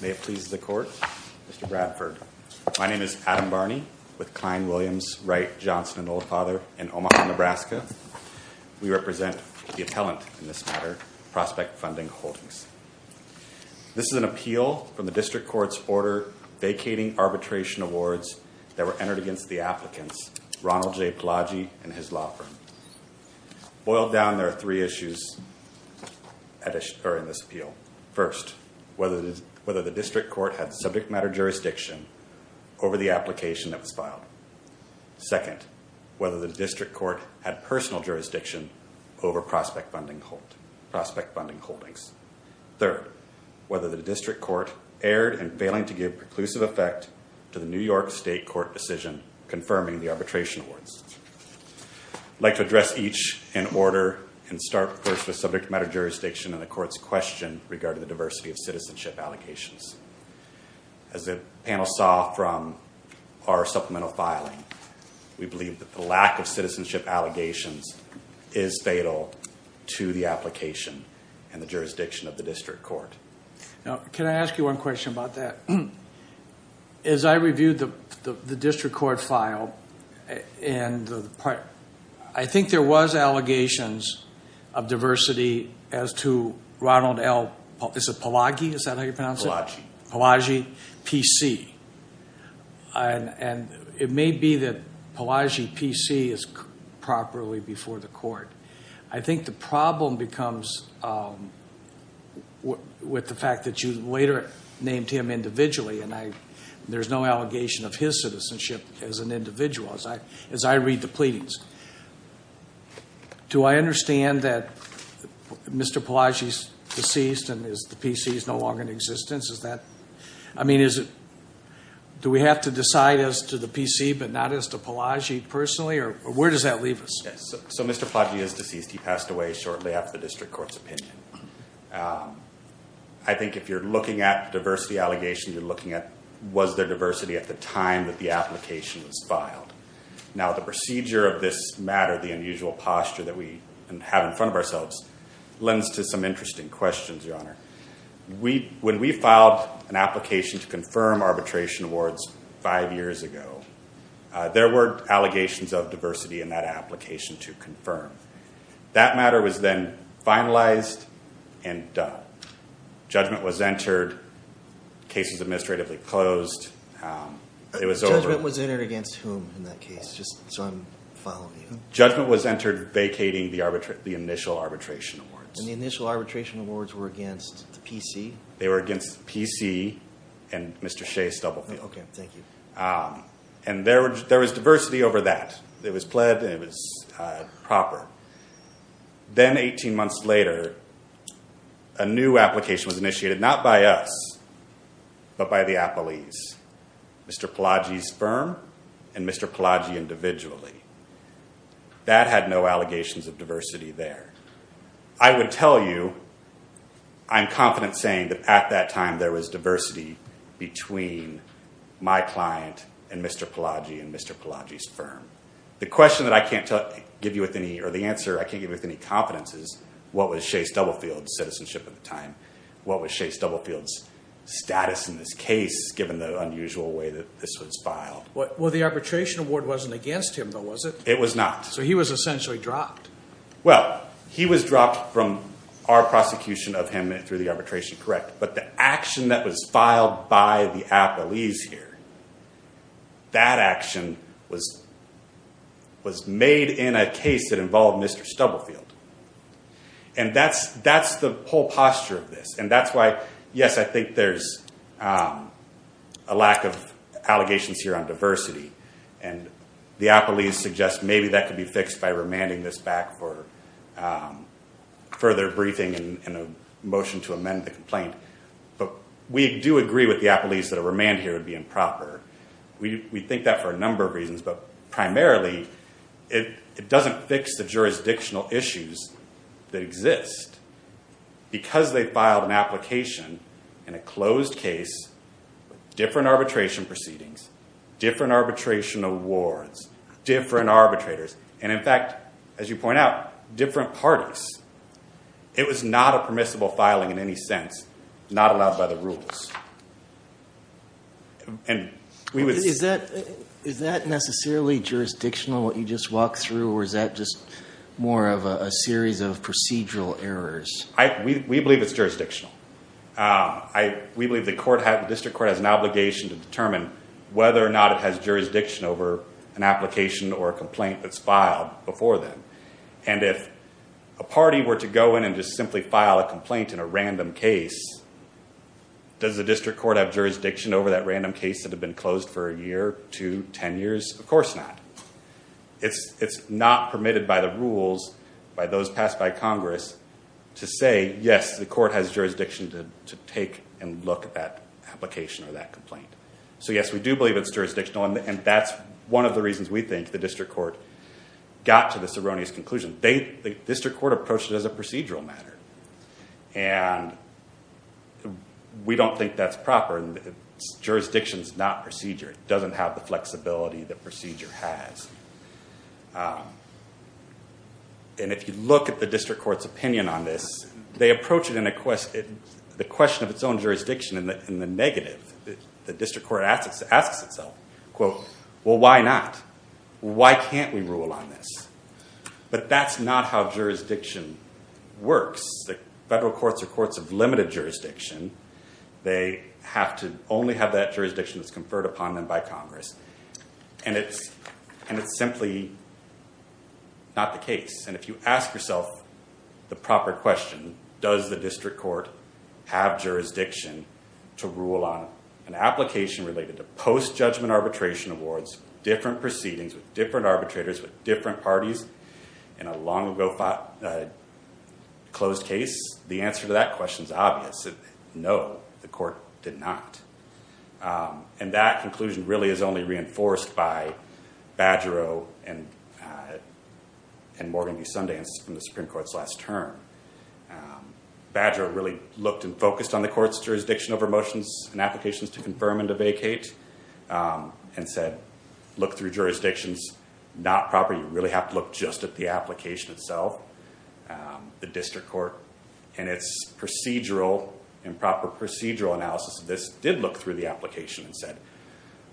May it please the Court, Mr. Bradford. My name is Adam Barney, with Klein, Williams, Wright, Johnson & Oldfather in Omaha, Nebraska. We represent the appellant in this matter, Prospect Funding Holdings. This is an appeal from the District Court's order vacating arbitration awards that were entered against the applicants, Ronald J. Palagi and his law firm. Boiled down, there are three issues in this appeal. First, whether the District Court had subject matter jurisdiction over the application that was filed. Second, whether the District Court had personal jurisdiction over Prospect Funding Holdings. Third, whether the District Court erred in failing to give preclusive effect to the New York State Court decision confirming the arbitration awards. I'd like to address each in order and start first with subject matter jurisdiction and the Court's question regarding the diversity of citizenship allegations. As the panel saw from our supplemental filing, we believe that the lack of citizenship allegations is fatal to the application and the jurisdiction of the District Court. Now, can I ask you one question about that? As I reviewed the District Court file, I think there was allegations of diversity as to Ronald L. Palagi, is that how you pronounce it? Palagi. Palagi, P.C. And it may be that Palagi, P.C. is properly before the Court. I think the problem becomes with the fact that you later named him individually, and there's no allegation of his citizenship as an individual, as I read the pleadings. Do I understand that Mr. Palagi is deceased and the P.C. is no longer in existence? I mean, do we have to decide as to the P.C., but not as to Palagi personally, or where does that leave us? Yes, so Mr. Palagi is deceased. He passed away shortly after the District Court's opinion. I think if you're looking at diversity allegations, you're looking at was there diversity at the time that the application was filed. Now, the procedure of this matter, the unusual posture that we have in front of ourselves, lends to some interesting questions, Your Honor. When we filed an application to confirm arbitration awards five years ago, there were allegations of diversity in that application to confirm. That matter was then finalized and done. Judgment was entered. Case was administratively closed. Judgment was entered against whom in that case, just so I'm following you? Judgment was entered vacating the initial arbitration awards. And the initial arbitration awards were against the P.C.? They were against the P.C. and Mr. Shea Stubblefield. Okay, thank you. And there was diversity over that. It was pled and it was proper. Then, 18 months later, a new application was initiated, not by us, but by the Appellees, Mr. Palagi's firm and Mr. Palagi individually. That had no allegations of diversity there. I would tell you, I'm confident saying that at that time there was diversity between my client and Mr. Palagi and Mr. Palagi's firm. The question that I can't give you with any, or the answer I can't give you with any confidence is, what was Shea Stubblefield's citizenship at the time? What was Shea Stubblefield's status in this case, given the unusual way that this was filed? Well, the arbitration award wasn't against him, though, was it? It was not. So he was essentially dropped. Well, he was dropped from our prosecution of him through the arbitration, correct. But the action that was filed by the Appellees here, that action was made in a case that involved Mr. Stubblefield. And that's the whole posture of this. And that's why, yes, I think there's a lack of allegations here on diversity. And the Appellees suggest maybe that could be fixed by remanding this back for further briefing and a motion to amend the complaint. But we do agree with the Appellees that a remand here would be improper. We think that for a number of reasons, but primarily it doesn't fix the jurisdictional issues that exist. Because they filed an application in a closed case with different arbitration proceedings, different arbitration awards, different arbitrators, and, in fact, as you point out, different parties, it was not a permissible filing in any sense, not allowed by the rules. Is that necessarily jurisdictional, what you just walked through, or is that just more of a series of procedural errors? We believe it's jurisdictional. We believe the district court has an obligation to determine whether or not it has jurisdiction over an application or a complaint that's filed before then. And if a party were to go in and just simply file a complaint in a random case, does the district court have jurisdiction over that random case that had been closed for a year, two, ten years? Of course not. It's not permitted by the rules, by those passed by Congress, to say, yes, the court has jurisdiction to take and look at that application or that complaint. So, yes, we do believe it's jurisdictional, and that's one of the reasons we think the district court got to this erroneous conclusion. The district court approached it as a procedural matter, and we don't think that's proper. Jurisdiction's not procedure. It doesn't have the flexibility that procedure has. And if you look at the district court's opinion on this, they approach it in the question of its own jurisdiction in the negative. The district court asks itself, quote, well, why not? Why can't we rule on this? But that's not how jurisdiction works. The federal courts are courts of limited jurisdiction. They have to only have that jurisdiction that's conferred upon them by Congress. And it's simply not the case. And if you ask yourself the proper question, does the district court have jurisdiction to rule on an application related to post-judgment arbitration awards, different proceedings with different arbitrators with different parties in a long-ago closed case, the answer to that question is obvious. No, the court did not. And that conclusion really is only reinforced by Badgerow and Morgan v. Sundance from the Supreme Court's last term. Badgerow really looked and focused on the court's jurisdiction over motions and applications to confirm and to vacate and said, look through jurisdictions not proper. You really have to look just at the application itself, the district court, and its procedural and proper procedural analysis of this did look through the application and said,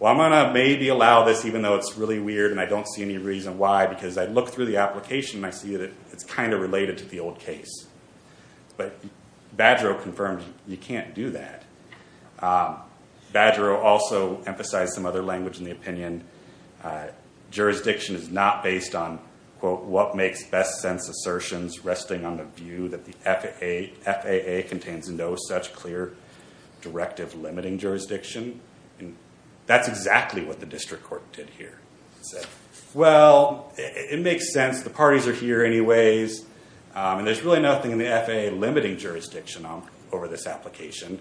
well, I'm going to maybe allow this even though it's really weird and I don't see any reason why because I look through the application and I see that it's kind of related to the old case. But Badgerow confirmed you can't do that. Badgerow also emphasized some other language in the opinion. Jurisdiction is not based on, quote, what makes best sense assertions resting on the view that the FAA contains no such clear directive limiting jurisdiction. That's exactly what the district court did here. Well, it makes sense. The parties are here anyways. And there's really nothing in the FAA limiting jurisdiction over this application.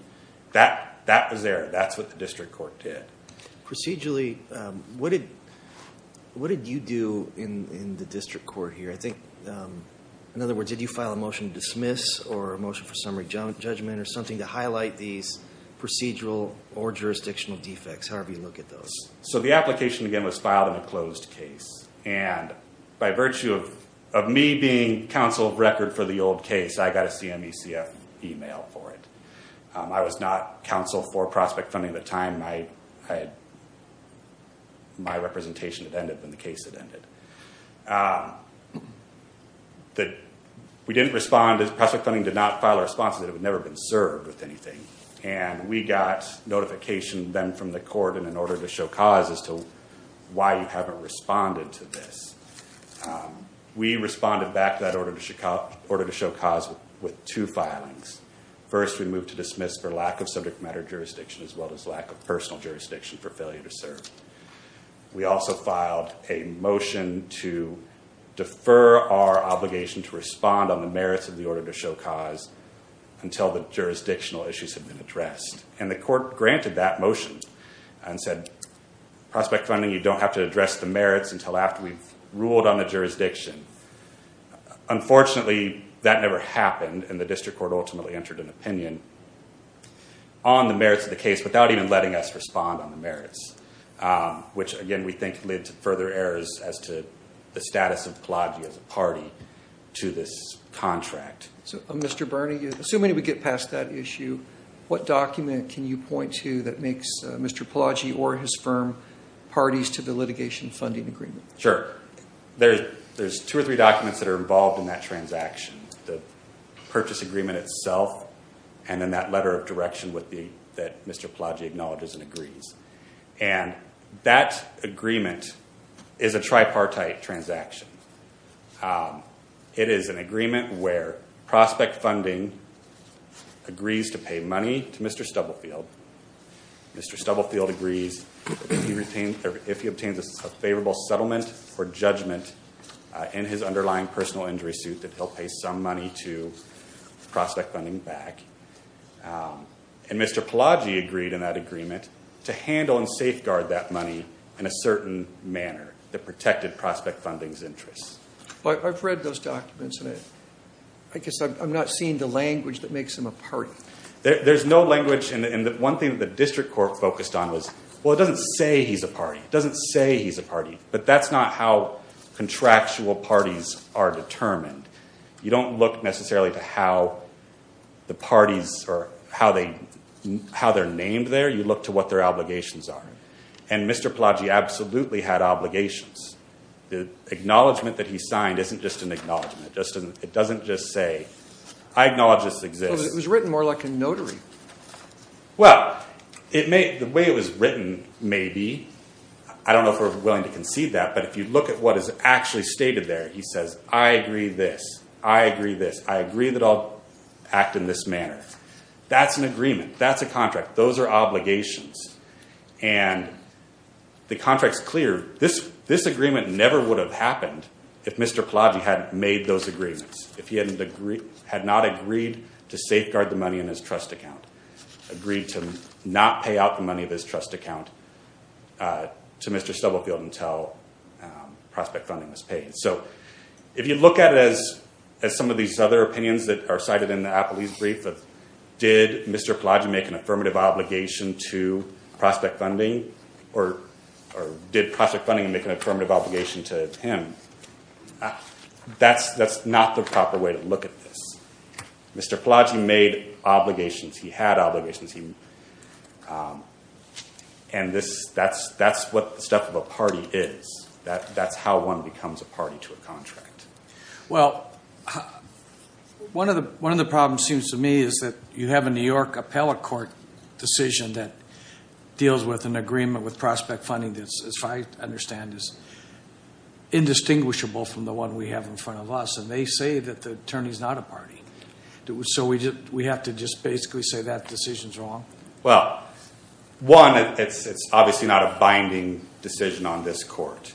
That was there. That's what the district court did. Procedurally, what did you do in the district court here? I think, in other words, did you file a motion to dismiss or a motion for summary judgment or something to highlight these procedural or jurisdictional defects, however you look at those? So the application, again, was filed in a closed case. And by virtue of me being counsel of record for the old case, I got a CMECF email for it. I was not counsel for prospect funding at the time. My representation had ended when the case had ended. We didn't respond. Prospect funding did not file a response to it. It had never been served with anything. And we got notification then from the court in an order to show cause as to why you haven't responded to this. We responded back to that order to show cause with two filings. First, we moved to dismiss for lack of subject matter jurisdiction, as well as lack of personal jurisdiction for failure to serve. We also filed a motion to defer our obligation to respond on the merits of the order to show cause until the jurisdictional issues have been addressed. And the court granted that motion and said, prospect funding, you don't have to address the merits until after we've ruled on the jurisdiction. Unfortunately, that never happened, and the district court ultimately entered an opinion on the merits of the case without even letting us respond on the merits, which, again, we think led to further errors as to the status of Pelagyi as a party to this contract. So, Mr. Birney, assuming we get past that issue, what document can you point to that makes Mr. Pelagyi or his firm parties to the litigation funding agreement? Sure. There's two or three documents that are involved in that transaction, the purchase agreement itself and then that letter of direction that Mr. Pelagyi acknowledges and agrees. And that agreement is a tripartite transaction. It is an agreement where prospect funding agrees to pay money to Mr. Stubblefield. Mr. Stubblefield agrees if he obtains a favorable settlement or judgment in his underlying personal injury suit that he'll pay some money to prospect funding back. And Mr. Pelagyi agreed in that agreement to handle and safeguard that money in a certain manner that protected prospect funding's interests. I've read those documents, and I guess I'm not seeing the language that makes them a party. There's no language. And one thing that the district court focused on was, well, it doesn't say he's a party. It doesn't say he's a party. But that's not how contractual parties are determined. You don't look necessarily to how the parties or how they're named there. You look to what their obligations are. And Mr. Pelagyi absolutely had obligations. The acknowledgment that he signed isn't just an acknowledgment. It doesn't just say, I acknowledge this exists. It was written more like a notary. Well, the way it was written may be. I don't know if we're willing to concede that. But if you look at what is actually stated there, he says, I agree this, I agree this, I agree that I'll act in this manner. That's an agreement. That's a contract. Those are obligations. And the contract's clear. This agreement never would have happened if Mr. Pelagyi hadn't made those agreements, if he had not agreed to safeguard the money in his trust account, agreed to not pay out the money of his trust account to Mr. Stubblefield until prospect funding was paid. So if you look at it as some of these other opinions that are cited in the Apolis brief, did Mr. Pelagyi make an affirmative obligation to prospect funding or did prospect funding make an affirmative obligation to him? That's not the proper way to look at this. Mr. Pelagyi made obligations. He had obligations. And that's what the stuff of a party is. That's how one becomes a party to a contract. Well, one of the problems, it seems to me, is that you have a New York appellate court decision that deals with an agreement with prospect funding that, as far as I understand, is indistinguishable from the one we have in front of us, and they say that the attorney's not a party. So we have to just basically say that decision's wrong? Well, one, it's obviously not a binding decision on this court.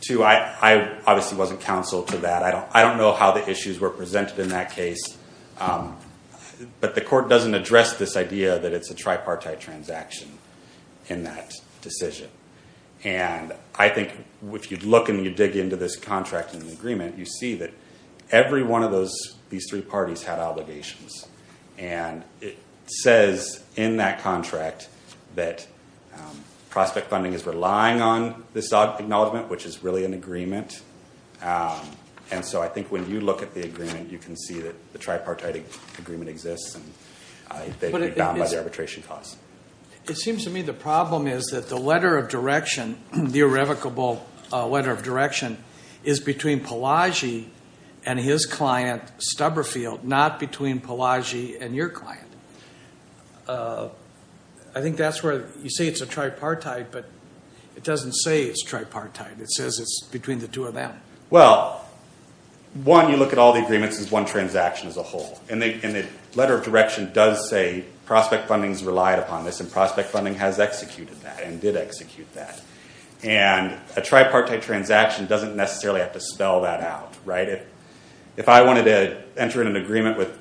Two, I obviously wasn't counsel to that. I don't know how the issues were presented in that case. But the court doesn't address this idea that it's a tripartite transaction in that decision. And I think if you look and you dig into this contract and the agreement, you see that every one of these three parties had obligations. And it says in that contract that prospect funding is relying on this acknowledgement, which is really an agreement. And so I think when you look at the agreement, you can see that the tripartite agreement exists, and they've been bound by the arbitration clause. It seems to me the problem is that the letter of direction, the irrevocable letter of direction, is between Palagi and his client, Stubberfield, not between Palagi and your client. I think that's where you say it's a tripartite, but it doesn't say it's tripartite. It says it's between the two of them. Well, one, you look at all the agreements, it's one transaction as a whole. And the letter of direction does say prospect funding's relied upon this, and prospect funding has executed that and did execute that. And a tripartite transaction doesn't necessarily have to spell that out. If I wanted to enter in an agreement with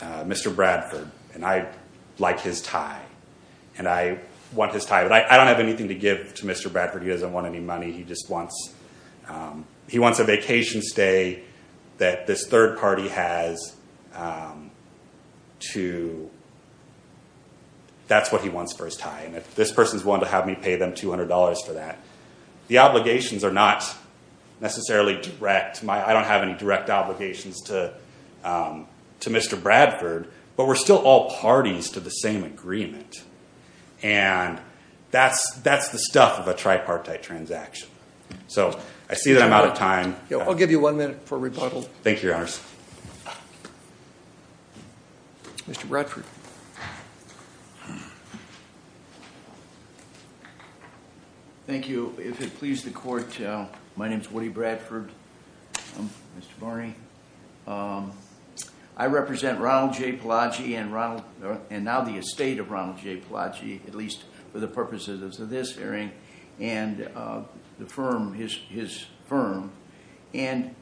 Mr. Bradford, and I like his tie, and I want his tie, but I don't have anything to give to Mr. Bradford. He doesn't want any money. He just wants a vacation stay that this third party has. That's what he wants for his tie. And if this person's willing to have me pay them $200 for that, the obligations are not necessarily direct. I don't have any direct obligations to Mr. Bradford, but we're still all parties to the same agreement. And that's the stuff of a tripartite transaction. So I see that I'm out of time. I'll give you one minute for rebuttal. Thank you, Your Honors. Mr. Bradford. Thank you. If it pleases the Court, my name's Woody Bradford. I'm Mr. Barney. I represent Ronald J. Palaci and now the estate of Ronald J. Palaci, at least for the purposes of this hearing, and his firm. And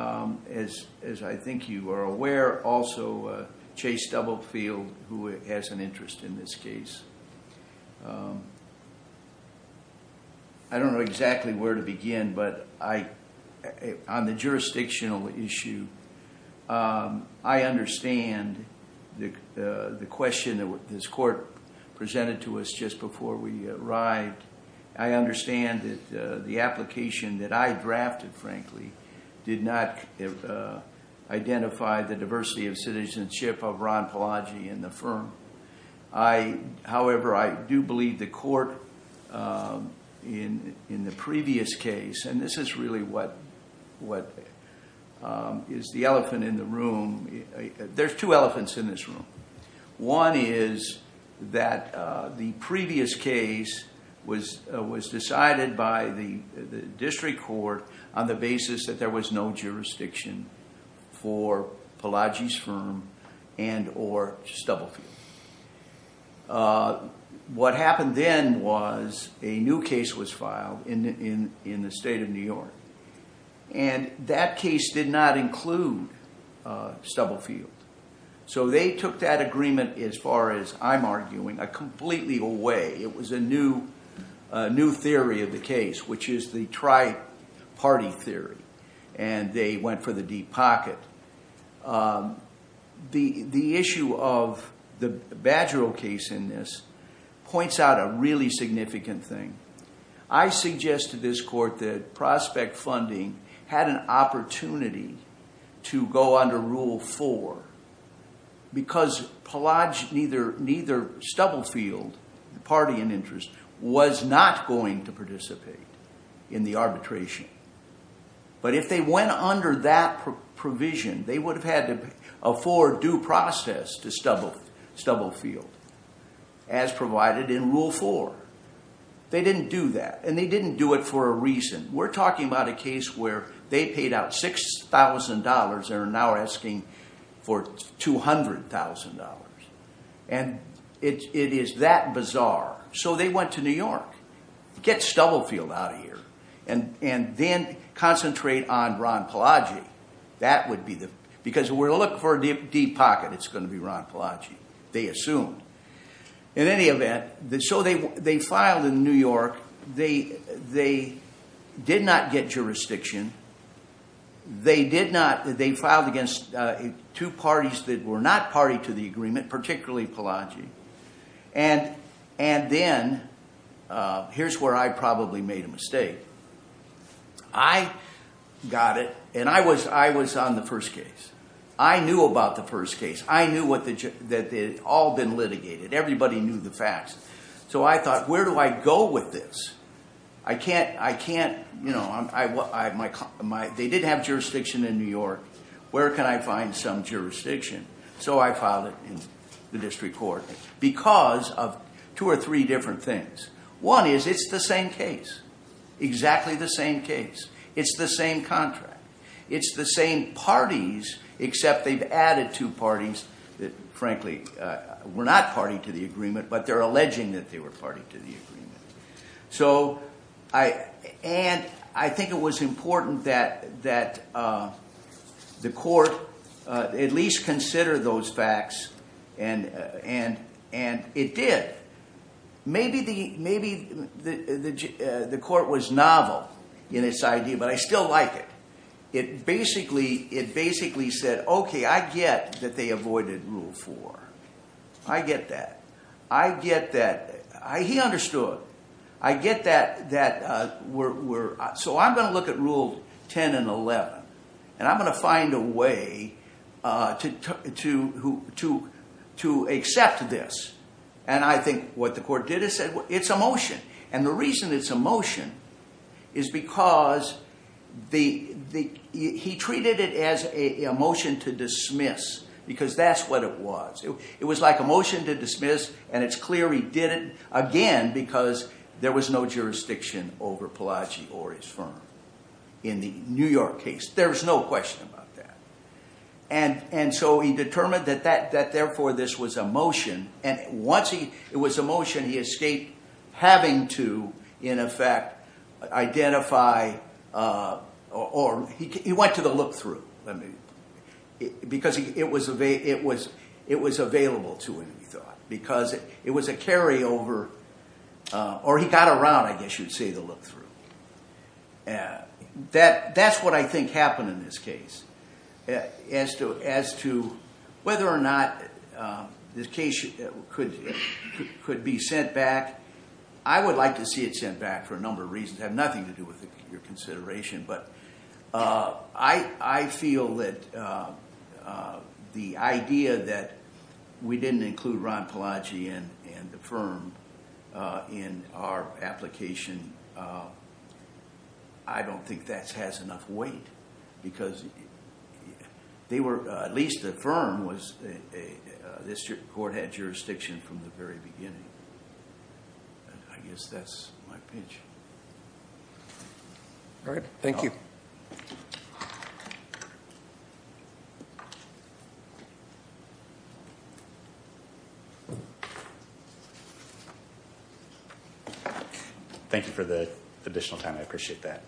as I think you are aware, also Chase Doublefield, who has an interest in this case. I don't know exactly where to begin, but on the jurisdictional issue, I understand the question that this Court presented to us just before we arrived. I understand that the application that I drafted, frankly, did not identify the diversity of citizenship of Ron Palaci and the firm. However, I do believe the Court in the previous case, and this is really what is the elephant in the room. There's two elephants in this room. One is that the previous case was decided by the district court on the basis that there was no jurisdiction for Palaci's firm and or Stubblefield. What happened then was a new case was filed in the state of New York, and that case did not include Stubblefield. So they took that agreement, as far as I'm arguing, completely away. It was a new theory of the case, which is the tri-party theory, and they went for the deep pocket. The issue of the Badgerill case in this points out a really significant thing. I suggest to this Court that prospect funding had an opportunity to go under Rule 4 because Palaci, neither Stubblefield, the party in interest, was not going to participate in the arbitration. But if they went under that provision, they would have had to afford due process to Stubblefield, as provided in Rule 4. They didn't do that, and they didn't do it for a reason. We're talking about a case where they paid out $6,000 and are now asking for $200,000, and it is that bizarre. So they went to New York, get Stubblefield out of here, and then concentrate on Ron Palaci. Because if we're looking for a deep pocket, it's going to be Ron Palaci, they assumed. In any event, so they filed in New York. They did not get jurisdiction. They filed against two parties that were not party to the agreement, particularly Palaci. And then, here's where I probably made a mistake. I got it, and I was on the first case. I knew about the first case. I knew that it had all been litigated. Everybody knew the facts. So I thought, where do I go with this? I can't, you know, they did have jurisdiction in New York. Where can I find some jurisdiction? So I filed it in the district court because of two or three different things. One is, it's the same case. Exactly the same case. It's the same contract. It's the same parties, except they've added two parties that, frankly, were not party to the agreement, but they're alleging that they were party to the agreement. And I think it was important that the court at least consider those facts, and it did. Maybe the court was novel in its idea, but I still like it. It basically said, okay, I get that they avoided Rule 4. I get that. I get that. He understood. I get that. So I'm going to look at Rule 10 and 11, and I'm going to find a way to accept this. And I think what the court did is said, it's a motion. And the reason it's a motion is because he treated it as a motion to dismiss because that's what it was. It was like a motion to dismiss, and it's clear he did it, again, because there was no jurisdiction over Pelagi or his firm in the New York case. There's no question about that. And so he determined that, therefore, this was a motion. And once it was a motion, he escaped having to, in effect, identify or he went to the look-through. Because it was available to him, he thought, because it was a carryover. Or he got around, I guess you'd say, the look-through. That's what I think happened in this case as to whether or not this case could be sent back. I would like to see it sent back for a number of reasons. They have nothing to do with your consideration. But I feel that the idea that we didn't include Ron Pelagi and the firm in our application, I don't think that has enough weight. Because they were, at least the firm, this court had jurisdiction from the very beginning. I guess that's my pitch. All right. Thank you. Thank you for the additional time. I appreciate that.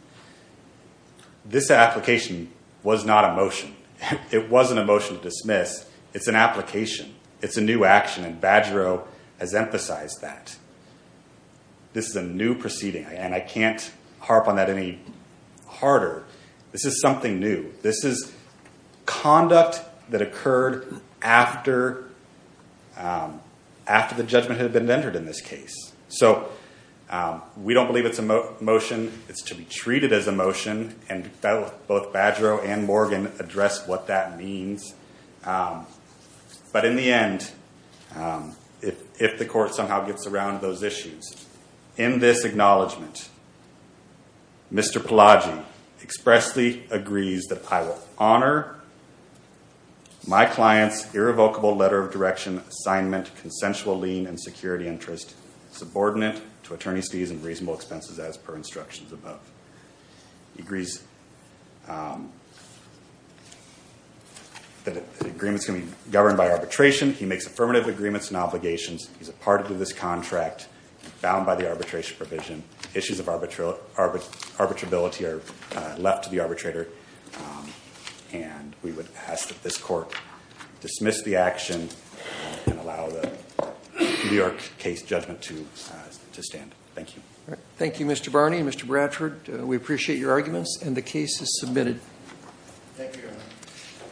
This application was not a motion. It wasn't a motion to dismiss. It's an application. It's a new action. And Badgerow has emphasized that. This is a new proceeding. And I can't harp on that any harder. This is something new. This is conduct that occurred after the judgment had been entered in this case. So we don't believe it's a motion. It's to be treated as a motion. And both Badgerow and Morgan addressed what that means. But in the end, if the court somehow gets around those issues, in this acknowledgment, Mr. Pelagi expressly agrees that I will honor my client's irrevocable letter of direction assignment, consensual lien, and security interest subordinate to attorney's fees and reasonable expenses as per instructions above. He agrees that the agreement's going to be governed by arbitration. He makes affirmative agreements and obligations. He's a part of this contract, bound by the arbitration provision. Issues of arbitrability are left to the arbitrator. And we would ask that this court dismiss the action and allow the New York case judgment to stand. Thank you. Thank you, Mr. Barney and Mr. Bradford. We appreciate your arguments. And the case is submitted. Thank you.